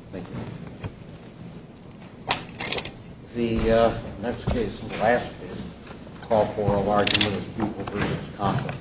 The next case and the last case call for a large number of people to present as Conkle. Council.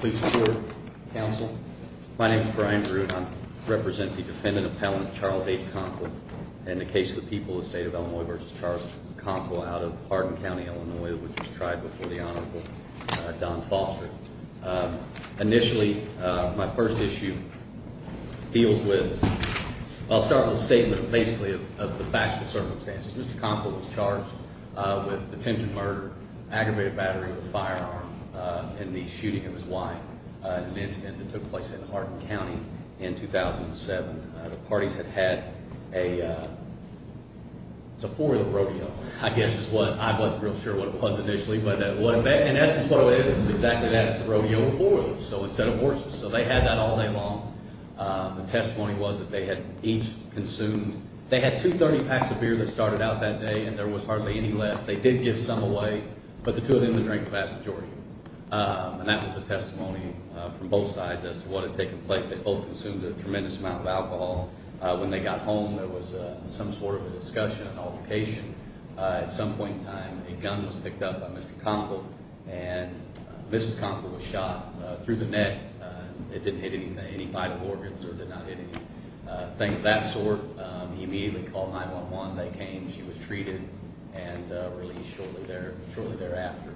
Please support Council. My name is Brian. Represent the defendant appellant, Charles H. Conkle. In the case of the people, the state of Illinois versus charged Conkle out of Hardin County, Illinois, which was tried before the Honorable Don Foster. Initially, my first issue deals with, I'll start with a statement of basically of the facts and circumstances. Mr. Conkle was charged with attempted murder, aggravated battery with a firearm. In the shooting, it was lying. An incident that took place in Hardin County in 2007. The parties had had a, it's a four-wheel rodeo, I guess is what, I wasn't real sure what it was initially. But in essence, what it is, is exactly that. It's a rodeo with four wheels, so instead of horses. So they had that all day long. The testimony was that they had each consumed, they had 230 packs of beer that started out that day. And there was hardly any left. They did give some away. But the two of them, they drank the vast majority. And that was the testimony from both sides as to what had taken place. They both consumed a tremendous amount of alcohol. When they got home, there was some sort of a discussion, an altercation. At some point in time, a gun was picked up by Mr. Conkle. And Mrs. Conkle was shot through the neck. It didn't hit any vital organs or did not hit any things of that sort. He immediately called 911. They came. She was treated and released shortly thereafter.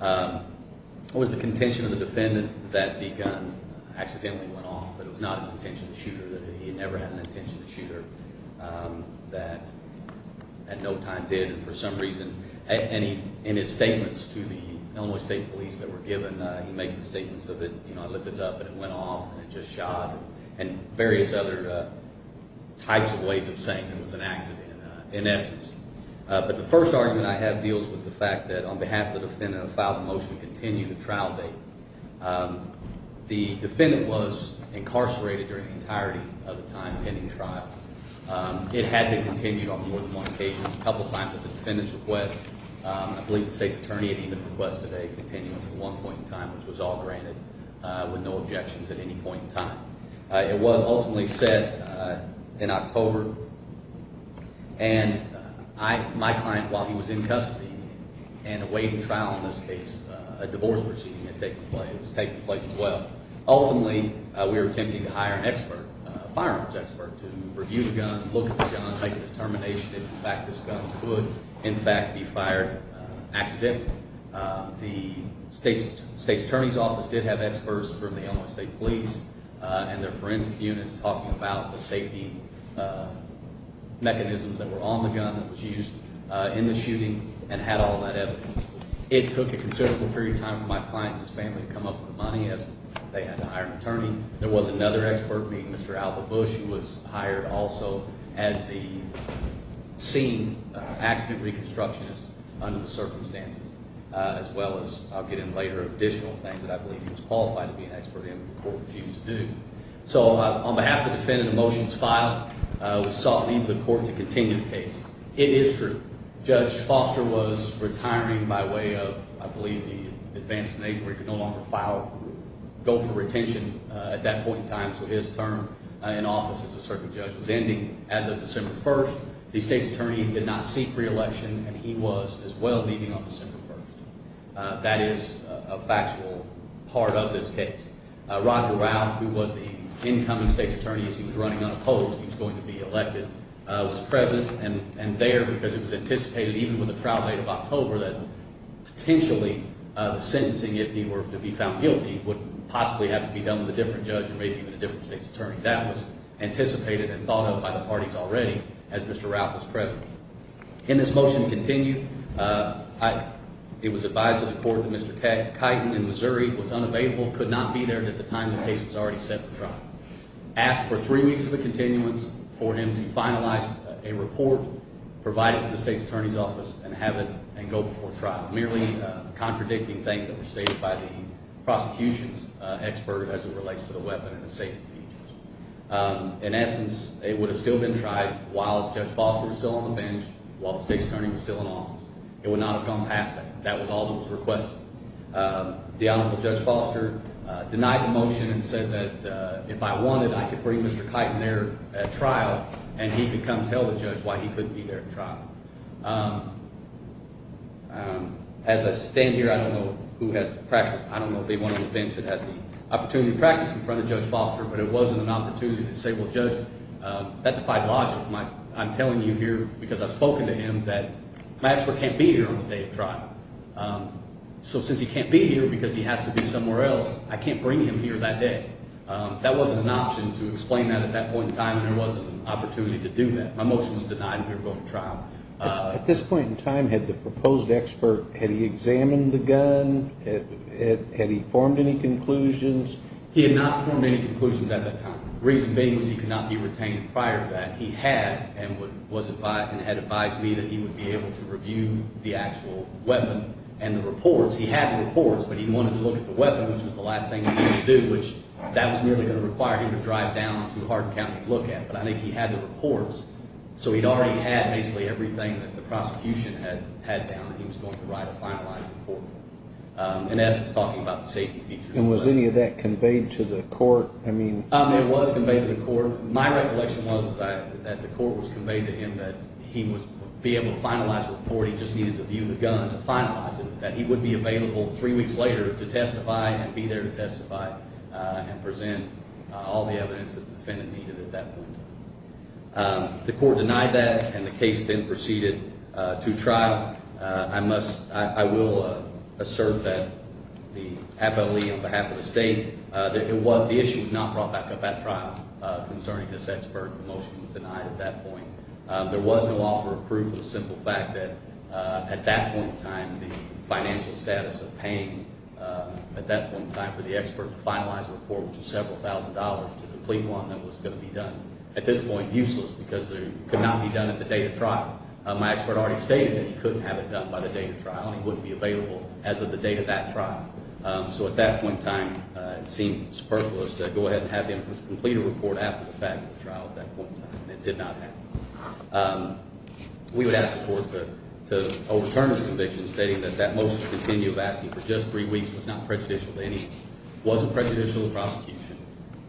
It was the contention of the defendant that the gun accidentally went off. But it was not his intention to shoot her. He never had an intention to shoot her. And no time did. And for some reason, in his statements to the Illinois State Police that were given, he makes the statement so that, you know, I lifted it up and it went off and it just shot and various other types of ways of saying it was an accident in essence. But the first argument I have deals with the fact that on behalf of the defendant, I filed a motion to continue the trial date. The defendant was incarcerated during the entirety of the time pending trial. It had been continued on more than one occasion. A couple times at the defendant's request. I believe the state's attorney had even requested a continuance at one point in time, which was all granted with no objections at any point in time. It was ultimately set in October. And my client, while he was in custody and awaiting trial in this case, a divorce proceeding had taken place. It was taking place as well. Ultimately, we were attempting to hire an expert, a firearms expert, to review the gun, look at the gun, make a determination if in fact this gun could, in fact, be fired accidentally. The state's attorney's office did have experts from the Illinois State Police and their forensic units talking about the safety mechanisms that were on the gun that was used in the shooting and had all that evidence. It took a considerable period of time for my client and his family to come up with the money as they had to hire an attorney. There was another expert, Mr. Alva Bush, who was hired also as the scene accident reconstructionist under the circumstances. As well as, I'll get in later, additional things that I believe he was qualified to be an expert in that the court refused to do. So, on behalf of the defendant, the motion is filed. We sought leave of the court to continue the case. It is true. Judge Foster was retiring by way of, I believe, the advanced stage where he could no longer file, go for retention at that point in time, so his term in office as a circuit judge was ending. As of December 1st, the state's attorney did not seek re-election and he was, as well, leaving on December 1st. That is a factual part of this case. Roger Ralph, who was the incoming state's attorney as he was running unopposed, he was going to be elected, was present and there because it was anticipated, even with the trial date of October, that potentially the sentencing, if he were to be found guilty, would possibly have to be done with a different judge or maybe even a different state's attorney. That was anticipated and thought of by the parties already as Mr. Ralph was present. In this motion to continue, it was advised to the court that Mr. Keighton in Missouri was unavailable, could not be there at the time the case was already set for trial. Asked for three weeks of a continuance for him to finalize a report provided to the state's attorney's office and have it go before trial, merely contradicting things that were stated by the prosecution's expert as it relates to the weapon and the safety features. In essence, it would have still been tried while Judge Foster was still on the bench, while the state's attorney was still in office. It would not have gone past that. That was all that was requested. The Honorable Judge Foster denied the motion and said that if I wanted, I could bring Mr. Keighton there at trial and he could come tell the judge why he couldn't be there at trial. As I stand here, I don't know who has practiced. I don't know if they went on the bench and had the opportunity to practice in front of Judge Foster, but it wasn't an opportunity to say, well, Judge, that defies logic. I'm telling you here because I've spoken to him that my expert can't be here on the day of trial. So since he can't be here because he has to be somewhere else, I can't bring him here that day. That wasn't an option to explain that at that point in time and there wasn't an opportunity to do that. My motion was denied and we were going to trial. At this point in time, had the proposed expert, had he examined the gun? Had he formed any conclusions? He had not formed any conclusions at that time. The reason being was he could not be retained prior to that. He had and had advised me that he would be able to review the actual weapon and the reports. He had the reports, but he wanted to look at the weapon, which was the last thing he wanted to do, which that was nearly going to require him to drive down to Hardin County to look at it. But I think he had the reports, so he'd already had basically everything that the prosecution had down that he was going to write a finalized report. And that's talking about the safety features. And was any of that conveyed to the court? It was conveyed to the court. My recollection was that the court was conveyed to him that he would be able to finalize the report. He just needed to view the gun to finalize it, that he would be available three weeks later to testify and be there to testify and present all the evidence that the defendant needed at that point. The court denied that, and the case then proceeded to trial. I will assert that the FLE, on behalf of the state, that the issue was not brought back up at trial concerning the Setzberg. The motion was denied at that point. There was no offer of proof for the simple fact that at that point in time, the financial status of paying at that point in time for the expert to finalize the report, which was several thousand dollars to complete one that was going to be done, at this point, useless, because it could not be done at the date of trial. My expert already stated that he couldn't have it done by the date of trial, and he wouldn't be available as of the date of that trial. So at that point in time, it seemed superfluous to go ahead and have him complete a report at that point in time, and it did not happen. We would ask the court to overturn his conviction, stating that that motion to continue of asking for just three weeks was not prejudicial to anyone. It wasn't prejudicial to the prosecution.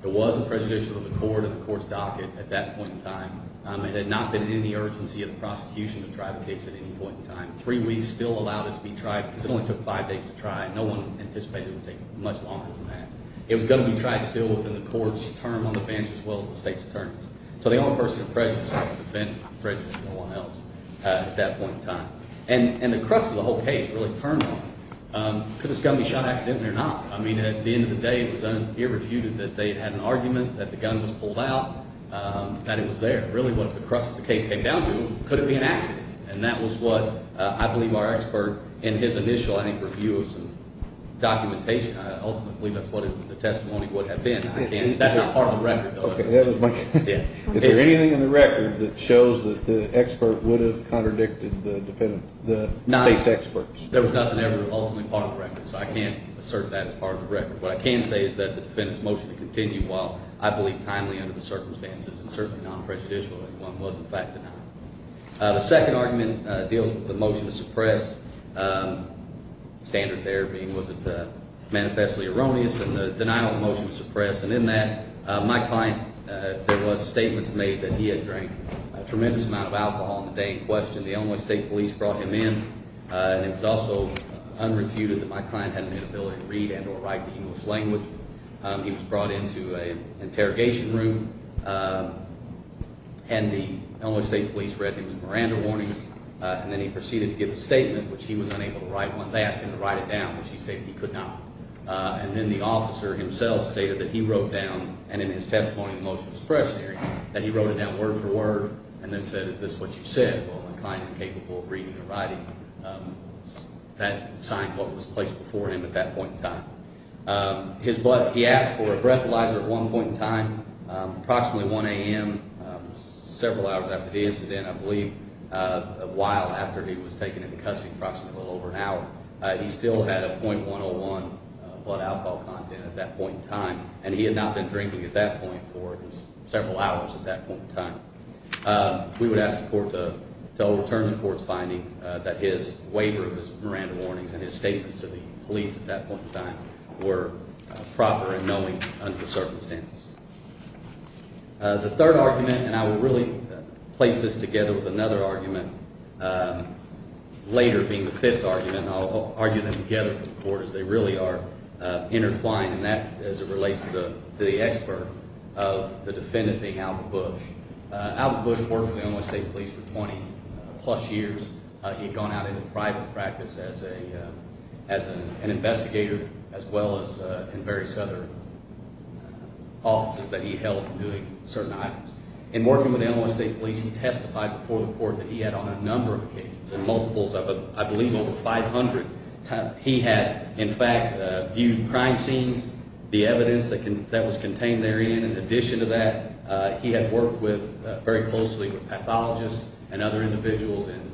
It wasn't prejudicial to the court and the court's docket at that point in time. It had not been in any urgency of the prosecution to try the case at any point in time. Three weeks still allowed it to be tried, because it only took five days to try. No one anticipated it would take much longer than that. It was going to be tried still within the court's term on the bench, as well as the state's terms. So the only person who was prejudiced was the defendant who was prejudiced and no one else at that point in time. And the crux of the whole case really turned on him. Could this gun be shot accidentally or not? I mean, at the end of the day, it was irrefuted that they had an argument, that the gun was pulled out, that it was there. Really, what the crux of the case came down to, could it be an accident? And that was what I believe our expert, in his initial, I think, review of some documentation, I ultimately believe that's what the testimony would have been. That's not part of the record, though. Is there anything in the record that shows that the expert would have contradicted the state's experts? There was nothing ever ultimately part of the record, so I can't assert that it's part of the record. What I can say is that the defendant's motion to continue, while I believe timely under the circumstances and certainly non-prejudicially, one was, in fact, denied. The second argument deals with the motion to suppress. The standard there being, was it manifestly erroneous? And the denial of the motion to suppress. And in that, my client, there was statements made that he had drank a tremendous amount of alcohol on the day in question. The Illinois State Police brought him in. And it was also unrefuted that my client had an inability to read and or write the English language. He was brought into an interrogation room. And the Illinois State Police read the Miranda warnings. And then he proceeded to give a statement, which he was unable to write. They asked him to write it down, which he stated he could not. And then the officer himself stated that he wrote down, and in his testimony, the motion to suppress, that he wrote it down word for word and then said, is this what you said? Well, my client was incapable of reading or writing. That signed what was placed before him at that point in time. His blood, he asked for a breathalyzer at one point in time, approximately 1 a.m., several hours after the incident, I believe, a while after he was taken into custody, approximately over an hour. He still had a .101 blood alcohol content at that point in time. And he had not been drinking at that point for several hours at that point in time. We would ask the court to overturn the court's finding that his waiver of his Miranda warnings and his statement to the police at that point in time were proper and knowing under the circumstances. The third argument, and I will really place this together with another argument later being the fifth argument, I'll argue them together for the court as they really are intertwined, and that as it relates to the expert of the defendant being Albert Bush. Albert Bush worked for the Illinois State Police for 20-plus years. He had gone out into private practice as an investigator as well as in various other offices that he held doing certain items. In working with the Illinois State Police, he testified before the court that he had, on a number of occasions, in multiples of, I believe, over 500 times, he had, in fact, viewed crime scenes, the evidence that was contained therein. In addition to that, he had worked very closely with pathologists and other individuals in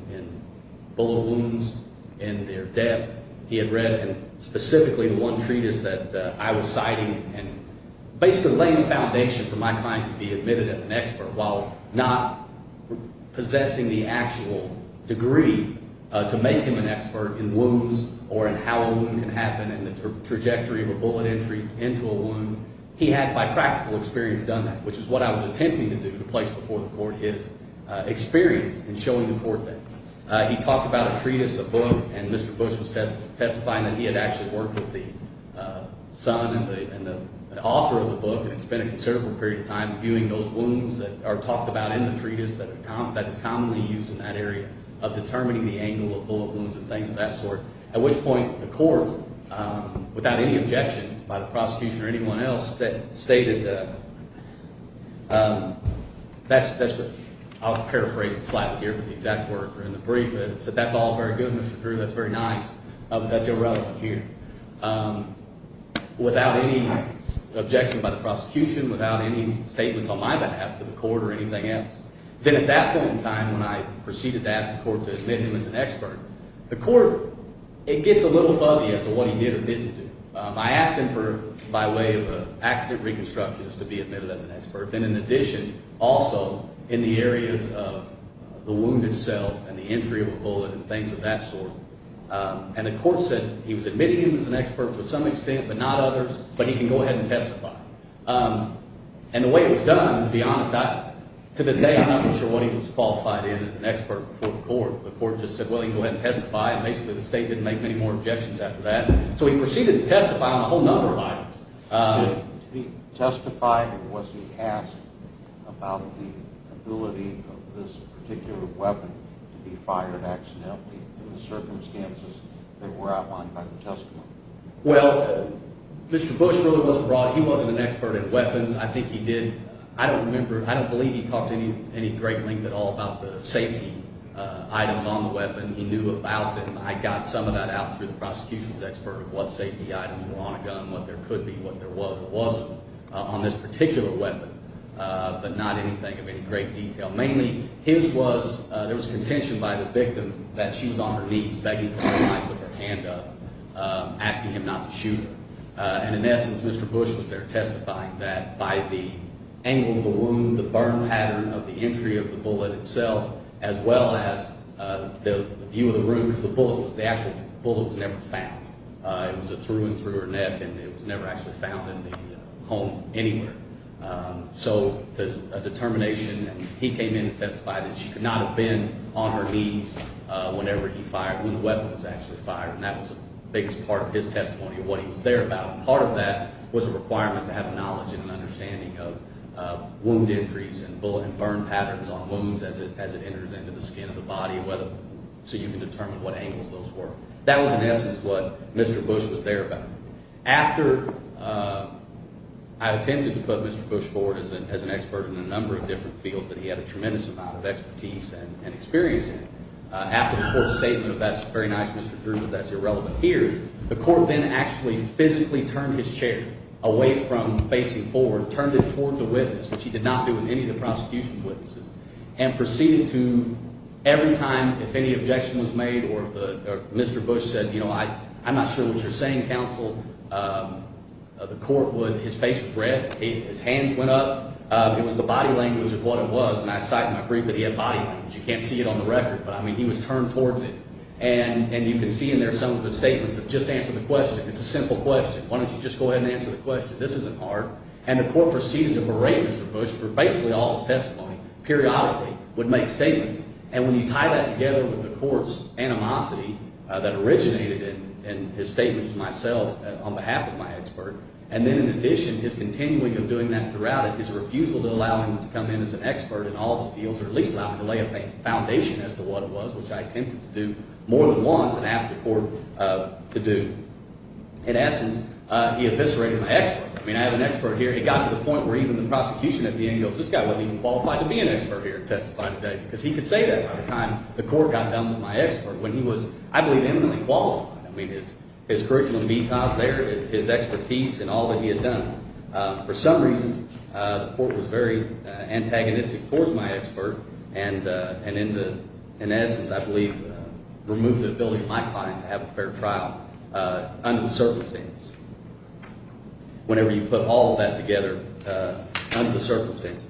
bullet wounds and their death. He had read specifically one treatise that I was citing and basically laying the foundation for my client to be admitted as an expert while not possessing the actual degree to make him an expert in wounds or in how a wound can happen and the trajectory of a bullet entry into a wound. He had, by practical experience, done that, which is what I was attempting to do to place before the court his experience in showing the court that. He talked about a treatise, a book, and Mr. Bush was testifying that he had actually worked with the son and the author of the book and spent a considerable period of time viewing those wounds that are talked about in the treatise that is commonly used in that area of determining the angle of bullet wounds and things of that sort, at which point the court, without any objection by the prosecution or anyone else, stated that's what – I'll paraphrase it slightly here, but the exact words are in the brief. It said that's all very good, Mr. Drew, that's very nice, but that's irrelevant here. Without any objection by the prosecution, without any statements on my behalf to the court or anything else, then at that point in time when I proceeded to ask the court to admit him as an expert, the court – it gets a little fuzzy as to what he did or didn't do. I asked him for, by way of accident reconstructions, to be admitted as an expert. Then in addition, also in the areas of the wound itself and the entry of a bullet and things of that sort, and the court said he was admitting him as an expert to some extent but not others, but he can go ahead and testify. And the way it was done, to be honest, to this day I'm not even sure what he was qualified in as an expert before the court. The court just said, well, you can go ahead and testify, and basically the state didn't make many more objections after that. So he proceeded to testify on a whole number of items. Did he testify and was he asked about the ability of this particular weapon to be fired accidentally in the circumstances that were outlined by the testimony? Well, Mr. Bush really wasn't – he wasn't an expert in weapons. I think he did – I don't remember – I don't believe he talked any great length at all about the safety items on the weapon. He knew about them. I got some of that out through the prosecution's expert of what safety items were on a gun, what there could be, what there was, what wasn't on this particular weapon, but not anything of any great detail. Mainly, his was – there was contention by the victim that she was on her knees begging for her life with her hand up, asking him not to shoot her. And in essence, Mr. Bush was there testifying that by the angle of the wound, the burn pattern of the entry of the bullet itself, as well as the view of the room of the bullet, the actual bullet was never found. It was through and through her neck, and it was never actually found in the home anywhere. So the determination – he came in to testify that she could not have been on her knees whenever he fired – when the weapon was actually fired, and that was the biggest part of his testimony of what he was there about. Part of that was a requirement to have knowledge and an understanding of wound entries and bullet and burn patterns on wounds as it enters into the skin of the body, so you can determine what angles those were. That was in essence what Mr. Bush was there about. After – I attempted to put Mr. Bush forward as an expert in a number of different fields that he had a tremendous amount of expertise and experience in. After the court's statement of that's very nice, Mr. Drew, but that's irrelevant here, the court then actually physically turned his chair away from facing forward, turned it toward the witness, which he did not do with any of the prosecution's witnesses, and proceeded to – every time if any objection was made or if Mr. Bush said I'm not sure what you're saying, counsel. The court would – his face was red, his hands went up. It was the body language of what it was, and I cite in my brief that he had body language. You can't see it on the record, but I mean he was turned towards it. And you can see in there some of his statements that just answer the question. It's a simple question. Why don't you just go ahead and answer the question? This isn't hard. And the court proceeded to berate Mr. Bush for basically all his testimony periodically, would make statements. And when you tie that together with the court's animosity that originated in his statements to myself on behalf of my expert, and then in addition his continuing of doing that throughout it, his refusal to allow him to come in as an expert in all the fields or at least allow him to lay a foundation as to what it was, which I attempted to do more than once and asked the court to do. In essence, he eviscerated my expert. I mean I have an expert here. It got to the point where even the prosecution at the end goes this guy wasn't even qualified to be an expert here and testify today because he could say that by the time the court got done with my expert when he was, I believe, eminently qualified. I mean his curriculum, his expertise and all that he had done. For some reason, the court was very antagonistic towards my expert and in essence I believe removed the ability of my client to have a fair trial under the circumstances. Whenever you put all of that together under the circumstances.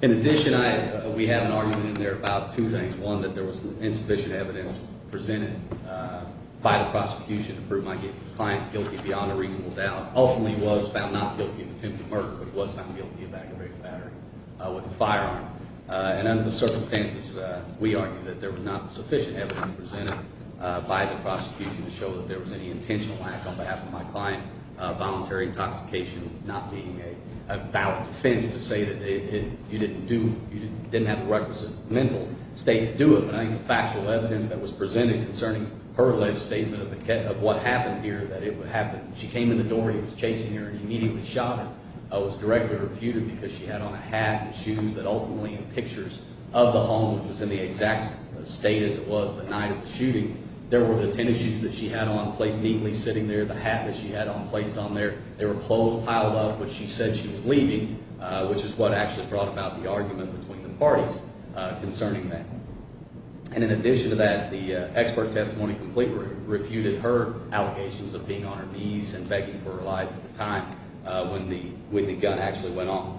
In addition, we have an argument in there about two things. One, that there was insufficient evidence presented by the prosecution to prove my client guilty beyond a reasonable doubt. Ultimately he was found not guilty of attempted murder, but he was found guilty of aggravated battery with a firearm. And under the circumstances, we argue that there was not sufficient evidence presented by the prosecution to show that there was any intentional act on behalf of my client. Voluntary intoxication not being a valid defense to say that you didn't have the requisite mental state to do it. But I think the factual evidence that was presented concerning her alleged statement of what happened here that it would happen. She came in the door and he was chasing her and he immediately shot her. I was directly refuted because she had on a hat and shoes that ultimately in pictures of the home, which was in the exact state as it was the night of the shooting. There were the tennis shoes that she had on placed neatly sitting there, the hat that she had on placed on there. There were clothes piled up, which she said she was leaving, which is what actually brought about the argument between the parties concerning that. And in addition to that, the expert testimony completely refuted her allegations of being on her knees and begging for her life at the time when the gun actually went off.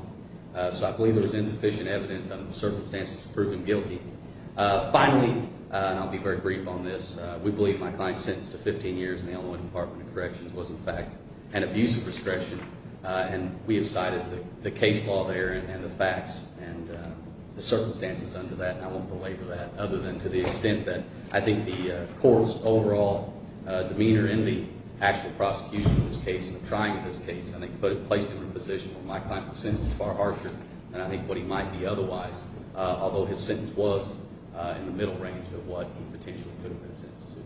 So I believe there was insufficient evidence under the circumstances to prove him guilty. Finally, and I'll be very brief on this, we believe my client's sentence to 15 years in the Illinois Department of Corrections was in fact an abusive restriction. And we have cited the case law there and the facts and the circumstances under that. And I won't belabor that other than to the extent that I think the court's overall demeanor in the actual prosecution of this case and the trying of this case. I think put it placed in a position where my client was sentenced far harsher than I think what he might be otherwise. Although his sentence was in the middle range of what he potentially could have been sentenced to.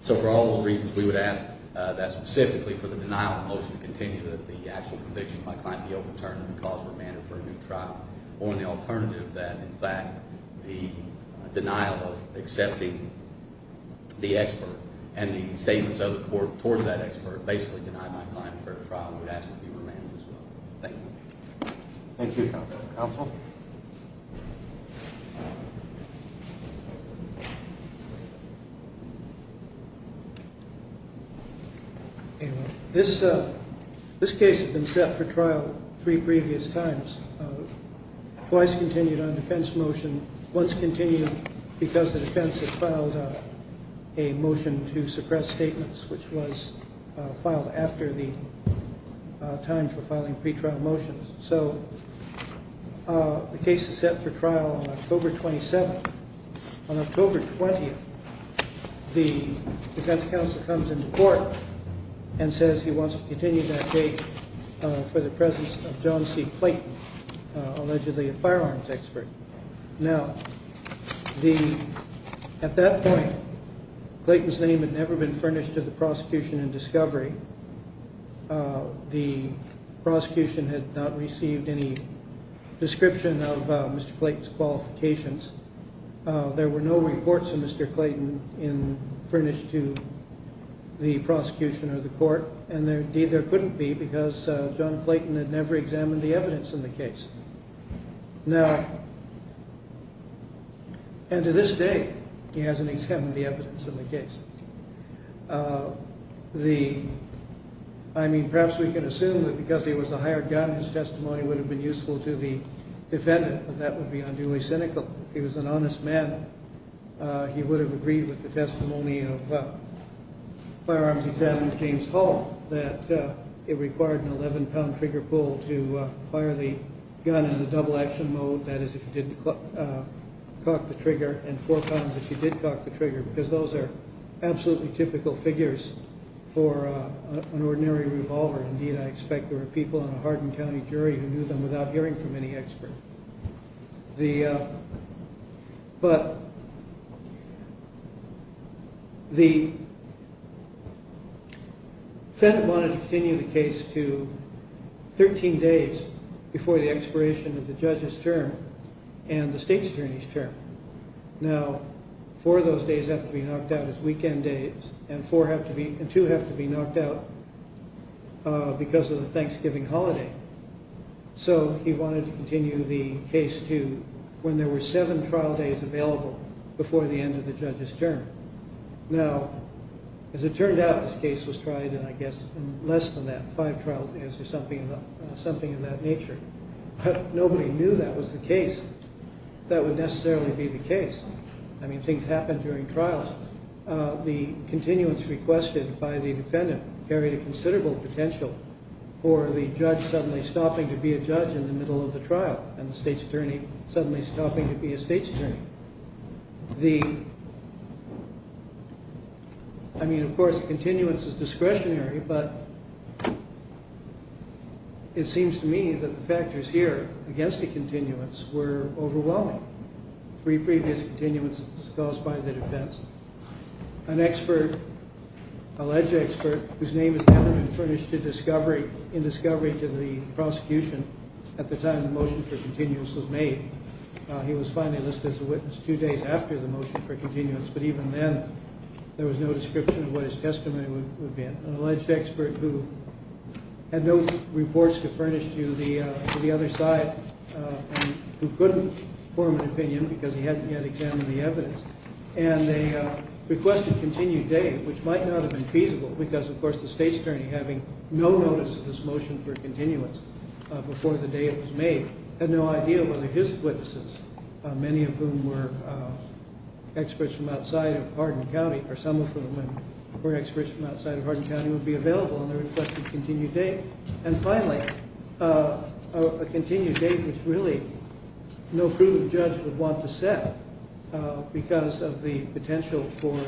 So for all those reasons, we would ask that specifically for the denial motion to continue that the actual conviction of my client be overturned and the cause remanded for a new trial. Or in the alternative that in fact the denial of accepting the expert and the statements of the court towards that expert basically denied my client a fair trial and would ask to be remanded as well. Thank you. Thank you, Counsel. This case has been set for trial three previous times. Twice continued on defense motion. Once continued because the defense has filed a motion to suppress statements, which was filed after the time for filing pre-trial motions. So the case is set for trial October 27th. On October 20th, the defense counsel comes into court and says he wants to continue that case for the presence of John C. Clayton, allegedly a firearms expert. Now, at that point, Clayton's name had never been furnished to the prosecution in discovery. The prosecution had not received any description of Mr. Clayton's qualifications. There were no reports of Mr. Clayton furnished to the prosecution or the court. And there couldn't be because John Clayton had never examined the evidence in the case. Now, and to this day, he hasn't examined the evidence in the case. I mean, perhaps we can assume that because he was a hired gun, his testimony would have been useful to the defendant, but that would be unduly cynical. If he was an honest man, he would have agreed with the testimony of firearms examiner James Hall that it required an 11-pound trigger pull to fire the gun in the double action mode. That is, if he didn't cock the trigger, and four pounds if he did cock the trigger, because those are absolutely typical figures for an ordinary revolver. Indeed, I expect there were people in a Hardin County jury who knew them without hearing from any expert. But the defendant wanted to continue the case to 13 days before the expiration of the judge's term and the state's attorney's term. Now, four of those days have to be knocked out as weekend days, and two have to be knocked out because of the Thanksgiving holiday. So he wanted to continue the case to when there were seven trial days available before the end of the judge's term. Now, as it turned out, this case was tried in, I guess, in less than that, five trial days or something in that nature. But nobody knew that was the case, that would necessarily be the case. I mean, things happened during trials. The continuance requested by the defendant carried a considerable potential for the judge suddenly stopping to be a judge in the middle of the trial, and the state's attorney suddenly stopping to be a state's attorney. I mean, of course, continuance is discretionary, but it seems to me that the factors here against the continuance were overwhelming. Three previous continuances disclosed by the defense. An expert, alleged expert, whose name has never been furnished in discovery to the prosecution at the time the motion for continuance was made. He was finally listed as a witness two days after the motion for continuance, but even then there was no description of what his testimony would be. An alleged expert who had no reports to furnish to the other side, who couldn't form an opinion because he hadn't yet examined the evidence. And they requested continued days, which might not have been feasible, because, of course, the state's attorney, having no notice of this motion for continuance before the day it was made, had no idea whether his witnesses, many of whom were experts from outside of Hardin County, or some of whom were experts from outside of Hardin County, would be available on their requested continued date. And finally, a continued date which really no prudent judge would want to set, because of the potential for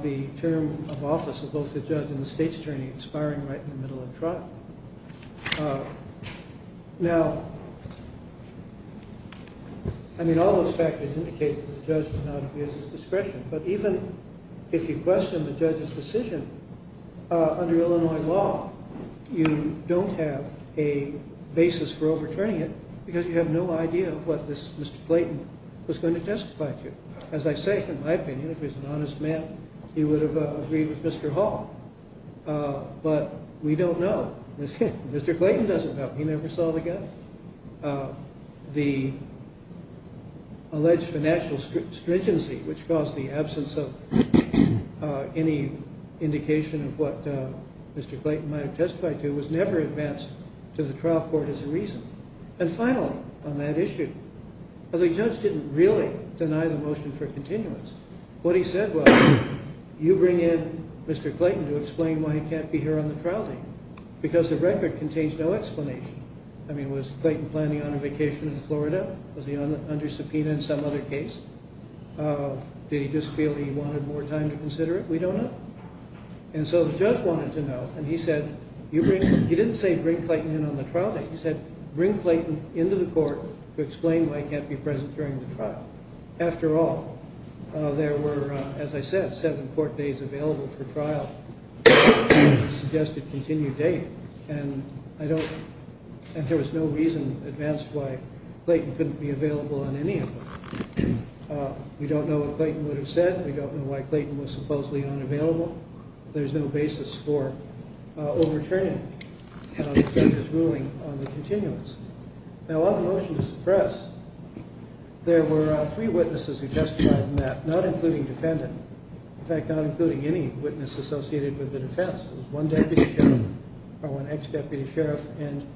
the term of office of both the judge and the state's attorney expiring right in the middle of trial. Now, I mean, all those factors indicate that the judge did not abuse his discretion, but even if you question the judge's decision, under Illinois law, you don't have a basis for overturning it, because you have no idea what this Mr. Clayton was going to testify to. As I say, in my opinion, if he was an honest man, he would have agreed with Mr. Hall. But we don't know. Mr. Clayton doesn't know. He never saw the guy. The alleged financial stringency which caused the absence of any indication of what Mr. Clayton might have testified to was never advanced to the trial court as a reason. And finally, on that issue, the judge didn't really deny the motion for continuance. What he said was, you bring in Mr. Clayton to explain why he can't be here on the trial date, because the record contains no explanation. I mean, was Clayton planning on a vacation in Florida? Was he under subpoena in some other case? Did he just feel he wanted more time to consider it? We don't know. And so the judge wanted to know, and he said, he didn't say bring Clayton in on the trial date. He said, bring Clayton into the court to explain why he can't be present during the trial. After all, there were, as I said, seven court days available for trial, suggested continued date. And there was no reason advanced why Clayton couldn't be available on any of them. We don't know what Clayton would have said. We don't know why Clayton was supposedly unavailable. There's no basis for overturning the judge's ruling on the continuance. Now, on the motion to suppress, there were three witnesses who testified in that, not including defendant. In fact, not including any witness associated with the defense. There was one deputy sheriff, or one ex-deputy sheriff, and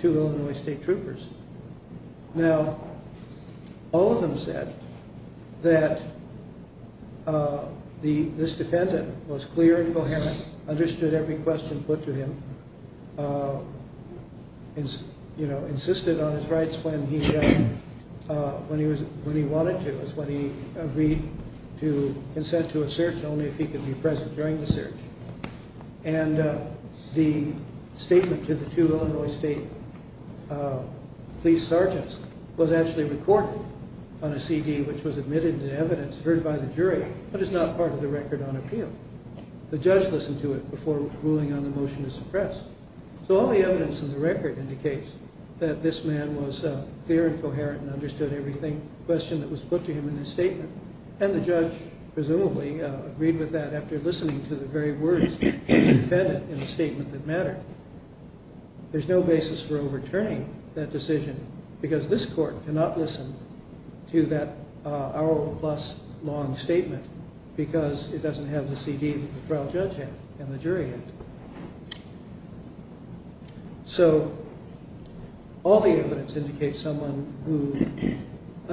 two Illinois State Troopers. Now, all of them said that this defendant was clear and coherent, understood every question put to him. Insisted on his rights when he wanted to. It was when he agreed to consent to a search, only if he could be present during the search. And the statement to the two Illinois State police sergeants was actually recorded on a CD, which was admitted in evidence, heard by the jury, but is not part of the record on appeal. The judge listened to it before ruling on the motion to suppress. So all the evidence in the record indicates that this man was clear and coherent, and understood every question that was put to him in his statement. And the judge, presumably, agreed with that after listening to the very words of the defendant in the statement that mattered. There's no basis for overturning that decision, because this court cannot listen to that hour-plus long statement, because it doesn't have the CD that the trial judge had, and the jury had. So, all the evidence indicates someone who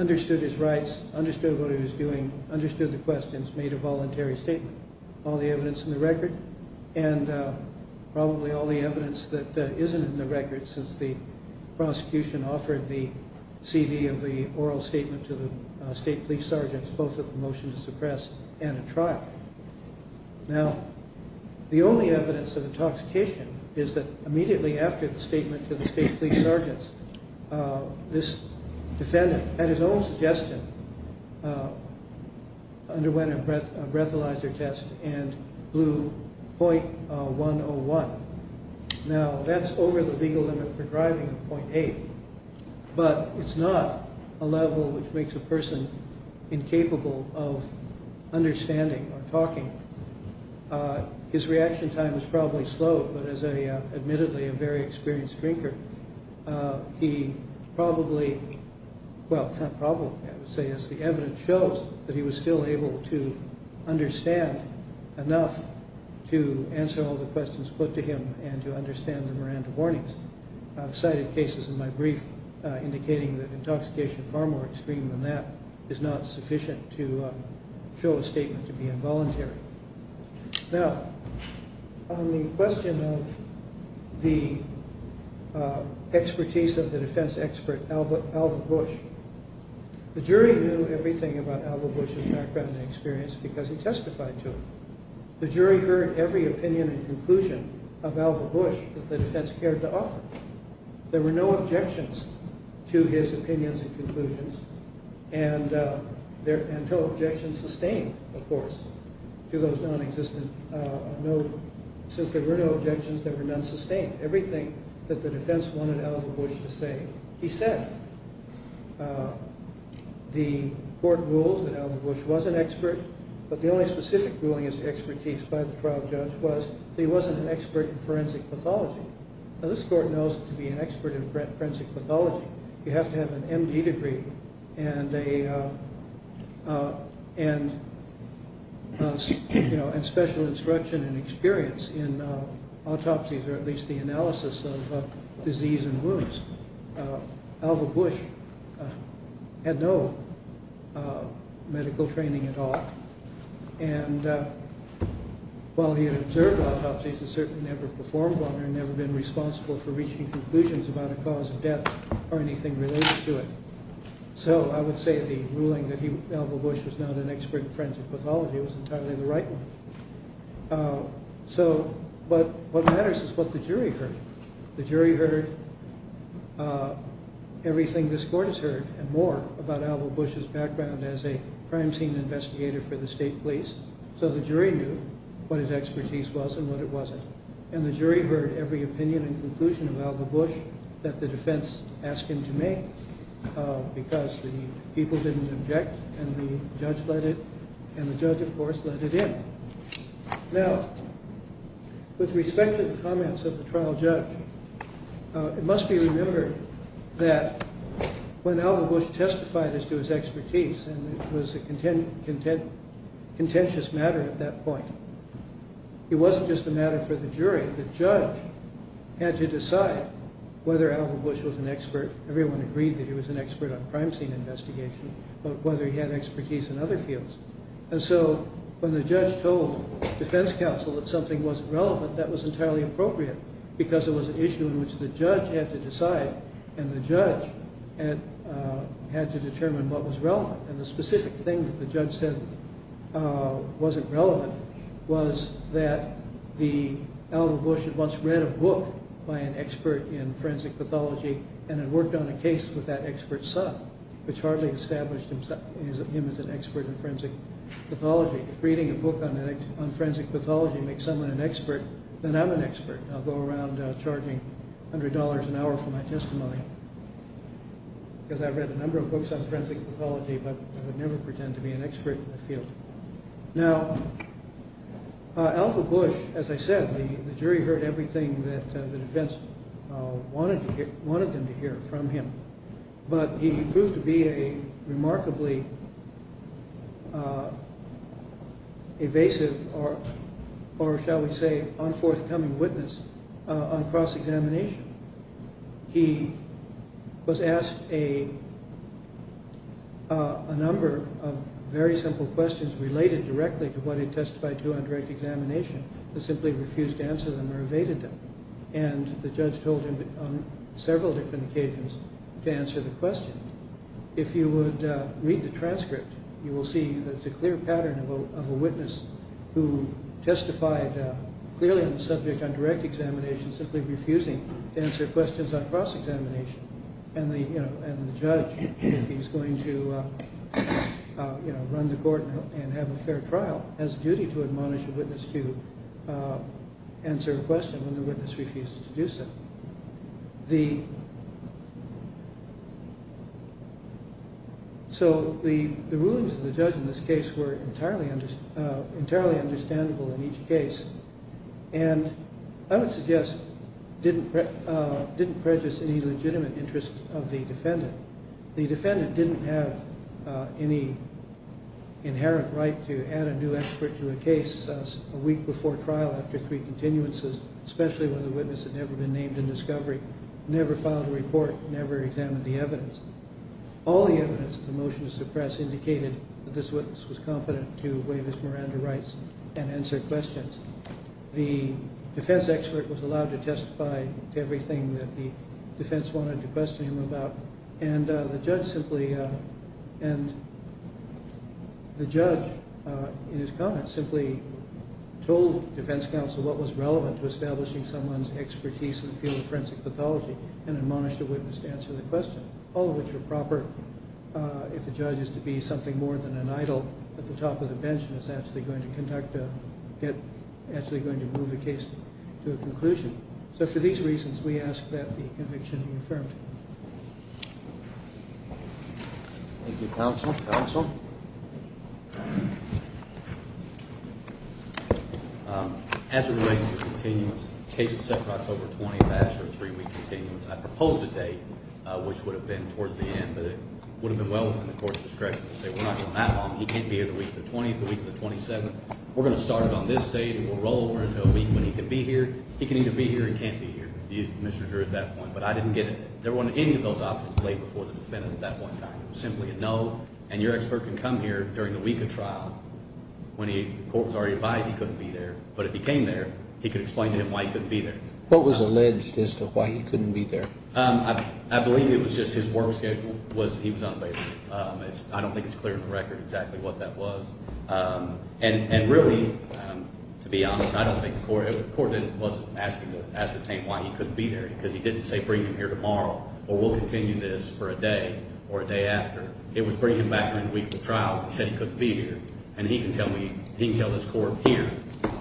understood his rights, understood what he was doing, understood the questions, made a voluntary statement. All the evidence in the record, and probably all the evidence that isn't in the record, since the prosecution offered the CD of the oral statement to the state police sergeants, both with a motion to suppress and a trial. Now, the only evidence of intoxication is that immediately after the statement to the state police sergeants, this defendant, at his own suggestion, underwent a breathalyzer test and blew .101. Now, that's over the legal limit for driving of .8, but it's not a level which makes a person incapable of understanding or talking. His reaction time was probably slow, but as, admittedly, a very experienced drinker, he probably, well, not probably, I would say, as the evidence shows, that he was still able to understand enough to answer all the questions put to him and to understand the Miranda warnings. I've cited cases in my brief indicating that intoxication far more extreme than that is not sufficient to show a statement to be involuntary. Now, on the question of the expertise of the defense expert, Alvin Bush, the jury knew everything about Alvin Bush's background and experience because he testified to it. The jury heard every opinion and conclusion of Alvin Bush that the defense cared to offer. There were no objections to his opinions and conclusions, and no objections sustained, of course, to those nonexistent. Since there were no objections, there were none sustained. Everything that the defense wanted Alvin Bush to say, he said. The court ruled that Alvin Bush was an expert, but the only specific ruling as to expertise by the trial judge was that he wasn't an expert in forensic pathology. Now, this court knows that to be an expert in forensic pathology, you have to have an MD degree and special instruction and experience in autopsies or at least the analysis of disease and wounds. Alvin Bush had no medical training at all, and while he had observed autopsies, he certainly never performed one or never been responsible for reaching conclusions about a cause of death or anything related to it. So I would say the ruling that Alvin Bush was not an expert in forensic pathology was entirely the right one. But what matters is what the jury heard. The jury heard everything this court has heard and more about Alvin Bush's background as a crime scene investigator for the state police, so the jury knew what his expertise was and what it wasn't. And the jury heard every opinion and conclusion of Alvin Bush that the defense asked him to make because the people didn't object and the judge, of course, let it in. Now, with respect to the comments of the trial judge, it must be remembered that when Alvin Bush testified as to his expertise, and it was a contentious matter at that point, the judge had to decide whether Alvin Bush was an expert. Everyone agreed that he was an expert on crime scene investigation, but whether he had expertise in other fields. And so when the judge told defense counsel that something wasn't relevant, that was entirely appropriate because it was an issue in which the judge had to decide, and the judge had to determine what was relevant. And the specific thing that the judge said wasn't relevant was that Alvin Bush had once read a book by an expert in forensic pathology and had worked on a case with that expert's son, which hardly established him as an expert in forensic pathology. If reading a book on forensic pathology makes someone an expert, then I'm an expert. I'll go around charging $100 an hour for my testimony because I've read a number of books on forensic pathology, but I would never pretend to be an expert in the field. Now, Alvin Bush, as I said, the jury heard everything that the defense wanted them to hear from him, but he proved to be a remarkably evasive or, shall we say, unforthcoming witness on cross-examination. He was asked a number of very simple questions related directly to what he testified to on direct examination but simply refused to answer them or evaded them, and the judge told him on several different occasions to answer the question. If you would read the transcript, you will see that it's a clear pattern of a witness who testified clearly on the subject on direct examination, simply refusing to answer questions on cross-examination, and the judge, if he's going to run the court and have a fair trial, has a duty to admonish a witness to answer a question when the witness refuses to do so. So the rulings of the judge in this case were entirely understandable in each case and I would suggest didn't prejudice any legitimate interest of the defendant. The defendant didn't have any inherent right to add a new expert to a case a week before trial after three continuances, especially when the witness had never been named in discovery, never filed a report, never examined the evidence. All the evidence in the motion to suppress indicated that this witness was competent to waive his Miranda rights and answer questions. The defense expert was allowed to testify to everything that the defense wanted to question him about, and the judge in his comments simply told defense counsel what was relevant to establishing someone's expertise in the field of forensic pathology and admonished a witness to answer the question, all of which were proper if the judge is to be something more than an idol at the top of the bench and is actually going to move the case to a conclusion. So for these reasons, we ask that the conviction be affirmed. Thank you, counsel. As it relates to continuance, the case was set for October 20th. I asked for a three-week continuance. I proposed a date, which would have been towards the end, but it would have been well within the court's discretion to say we're not going that long. He can't be here the week of the 20th, the week of the 27th. We're going to start it on this date and we'll roll over until a week when he can be here. He can either be here or he can't be here, Mr. Drew, at that point. But I didn't get any of those options laid before the defendant at that one time. It was simply a no, and your expert can come here during the week of trial when the court was already advised he couldn't be there. But if he came there, he could explain to him why he couldn't be there. What was alleged as to why he couldn't be there? I believe it was just his work schedule. He was unabated. I don't think it's clear on the record exactly what that was. And really, to be honest, I don't think the court – the court wasn't asking to ascertain why he couldn't be there because he didn't say bring him here tomorrow or we'll continue this for a day or a day after. It was bring him back during the week of the trial and said he couldn't be here. And he can tell me – he can tell this court here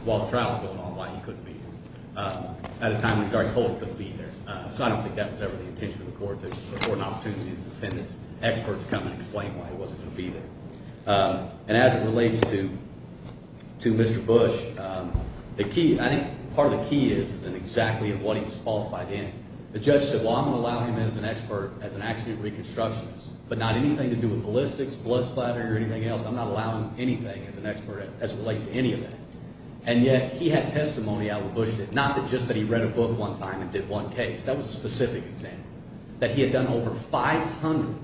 while the trial is going on why he couldn't be here at a time when he's already told he couldn't be there. So I don't think that was ever the intention of the court to afford an opportunity for the defendant's expert to come and explain why he wasn't going to be there. And as it relates to Mr. Bush, the key – I think part of the key is in exactly what he was qualified in. The judge said, well, I'm going to allow him as an expert as an accident reconstructionist, but not anything to do with ballistics, blood splatter, or anything else. I'm not allowing anything as an expert as it relates to any of that. And yet he had testimony out what Bush did, not just that he read a book one time and did one case. That was a specific example, that he had done over 500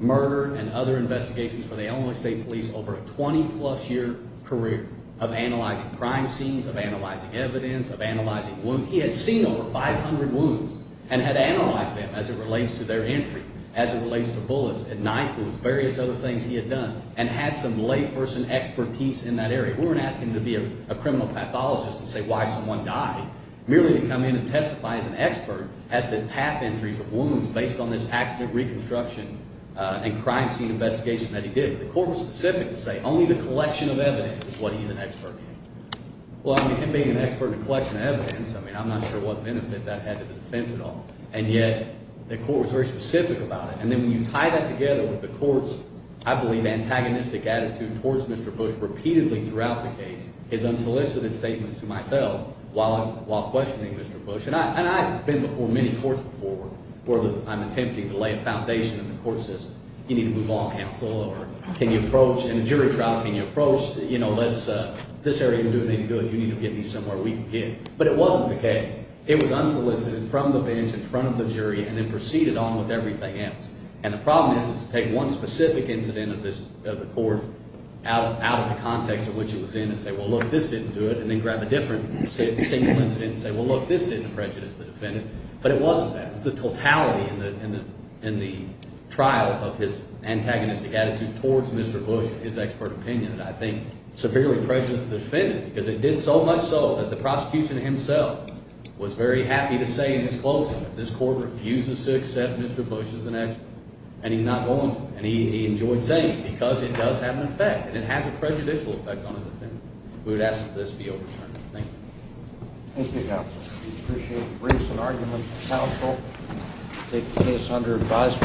murder and other investigations for the Illinois State Police over a 20-plus year career of analyzing crime scenes, of analyzing evidence, of analyzing wounds. He had seen over 500 wounds and had analyzed them as it relates to their entry, as it relates to bullets and knife wounds, various other things he had done, and had some layperson expertise in that area. We weren't asking him to be a criminal pathologist and say why someone died. Merely to come in and testify as an expert as to path entries of wounds based on this accident reconstruction and crime scene investigation that he did. The court was specific to say only the collection of evidence is what he's an expert in. Well, I mean him being an expert in the collection of evidence, I mean I'm not sure what benefit that had to the defense at all. And yet the court was very specific about it. And then when you tie that together with the court's, I believe, antagonistic attitude towards Mr. Bush repeatedly throughout the case is unsolicited statements to myself while questioning Mr. Bush. And I've been before many courts before where I'm attempting to lay a foundation in the court system. You need to move on, counsel, or can you approach – in a jury trial, can you approach, you know, let's – this area didn't do it any good. You need to get me somewhere we can get. But it wasn't the case. It was unsolicited from the bench in front of the jury and then proceeded on with everything else. And the problem is to take one specific incident of the court out of the context of which it was in and say, well, look, this didn't do it, and then grab a different single incident and say, well, look, this didn't prejudice the defendant. But it wasn't that. It was the totality in the trial of his antagonistic attitude towards Mr. Bush, his expert opinion, that I think severely prejudiced the defendant because it did so much so that the prosecution himself was very happy to say in his closing that this court refuses to accept Mr. Bush as an expert and he's not going to. And he enjoyed saying it because it does have an effect and it has a prejudicial effect on a defendant. We would ask that this be overturned. Thank you, counsel. We appreciate the briefs and arguments. Counsel, take the case under advisement.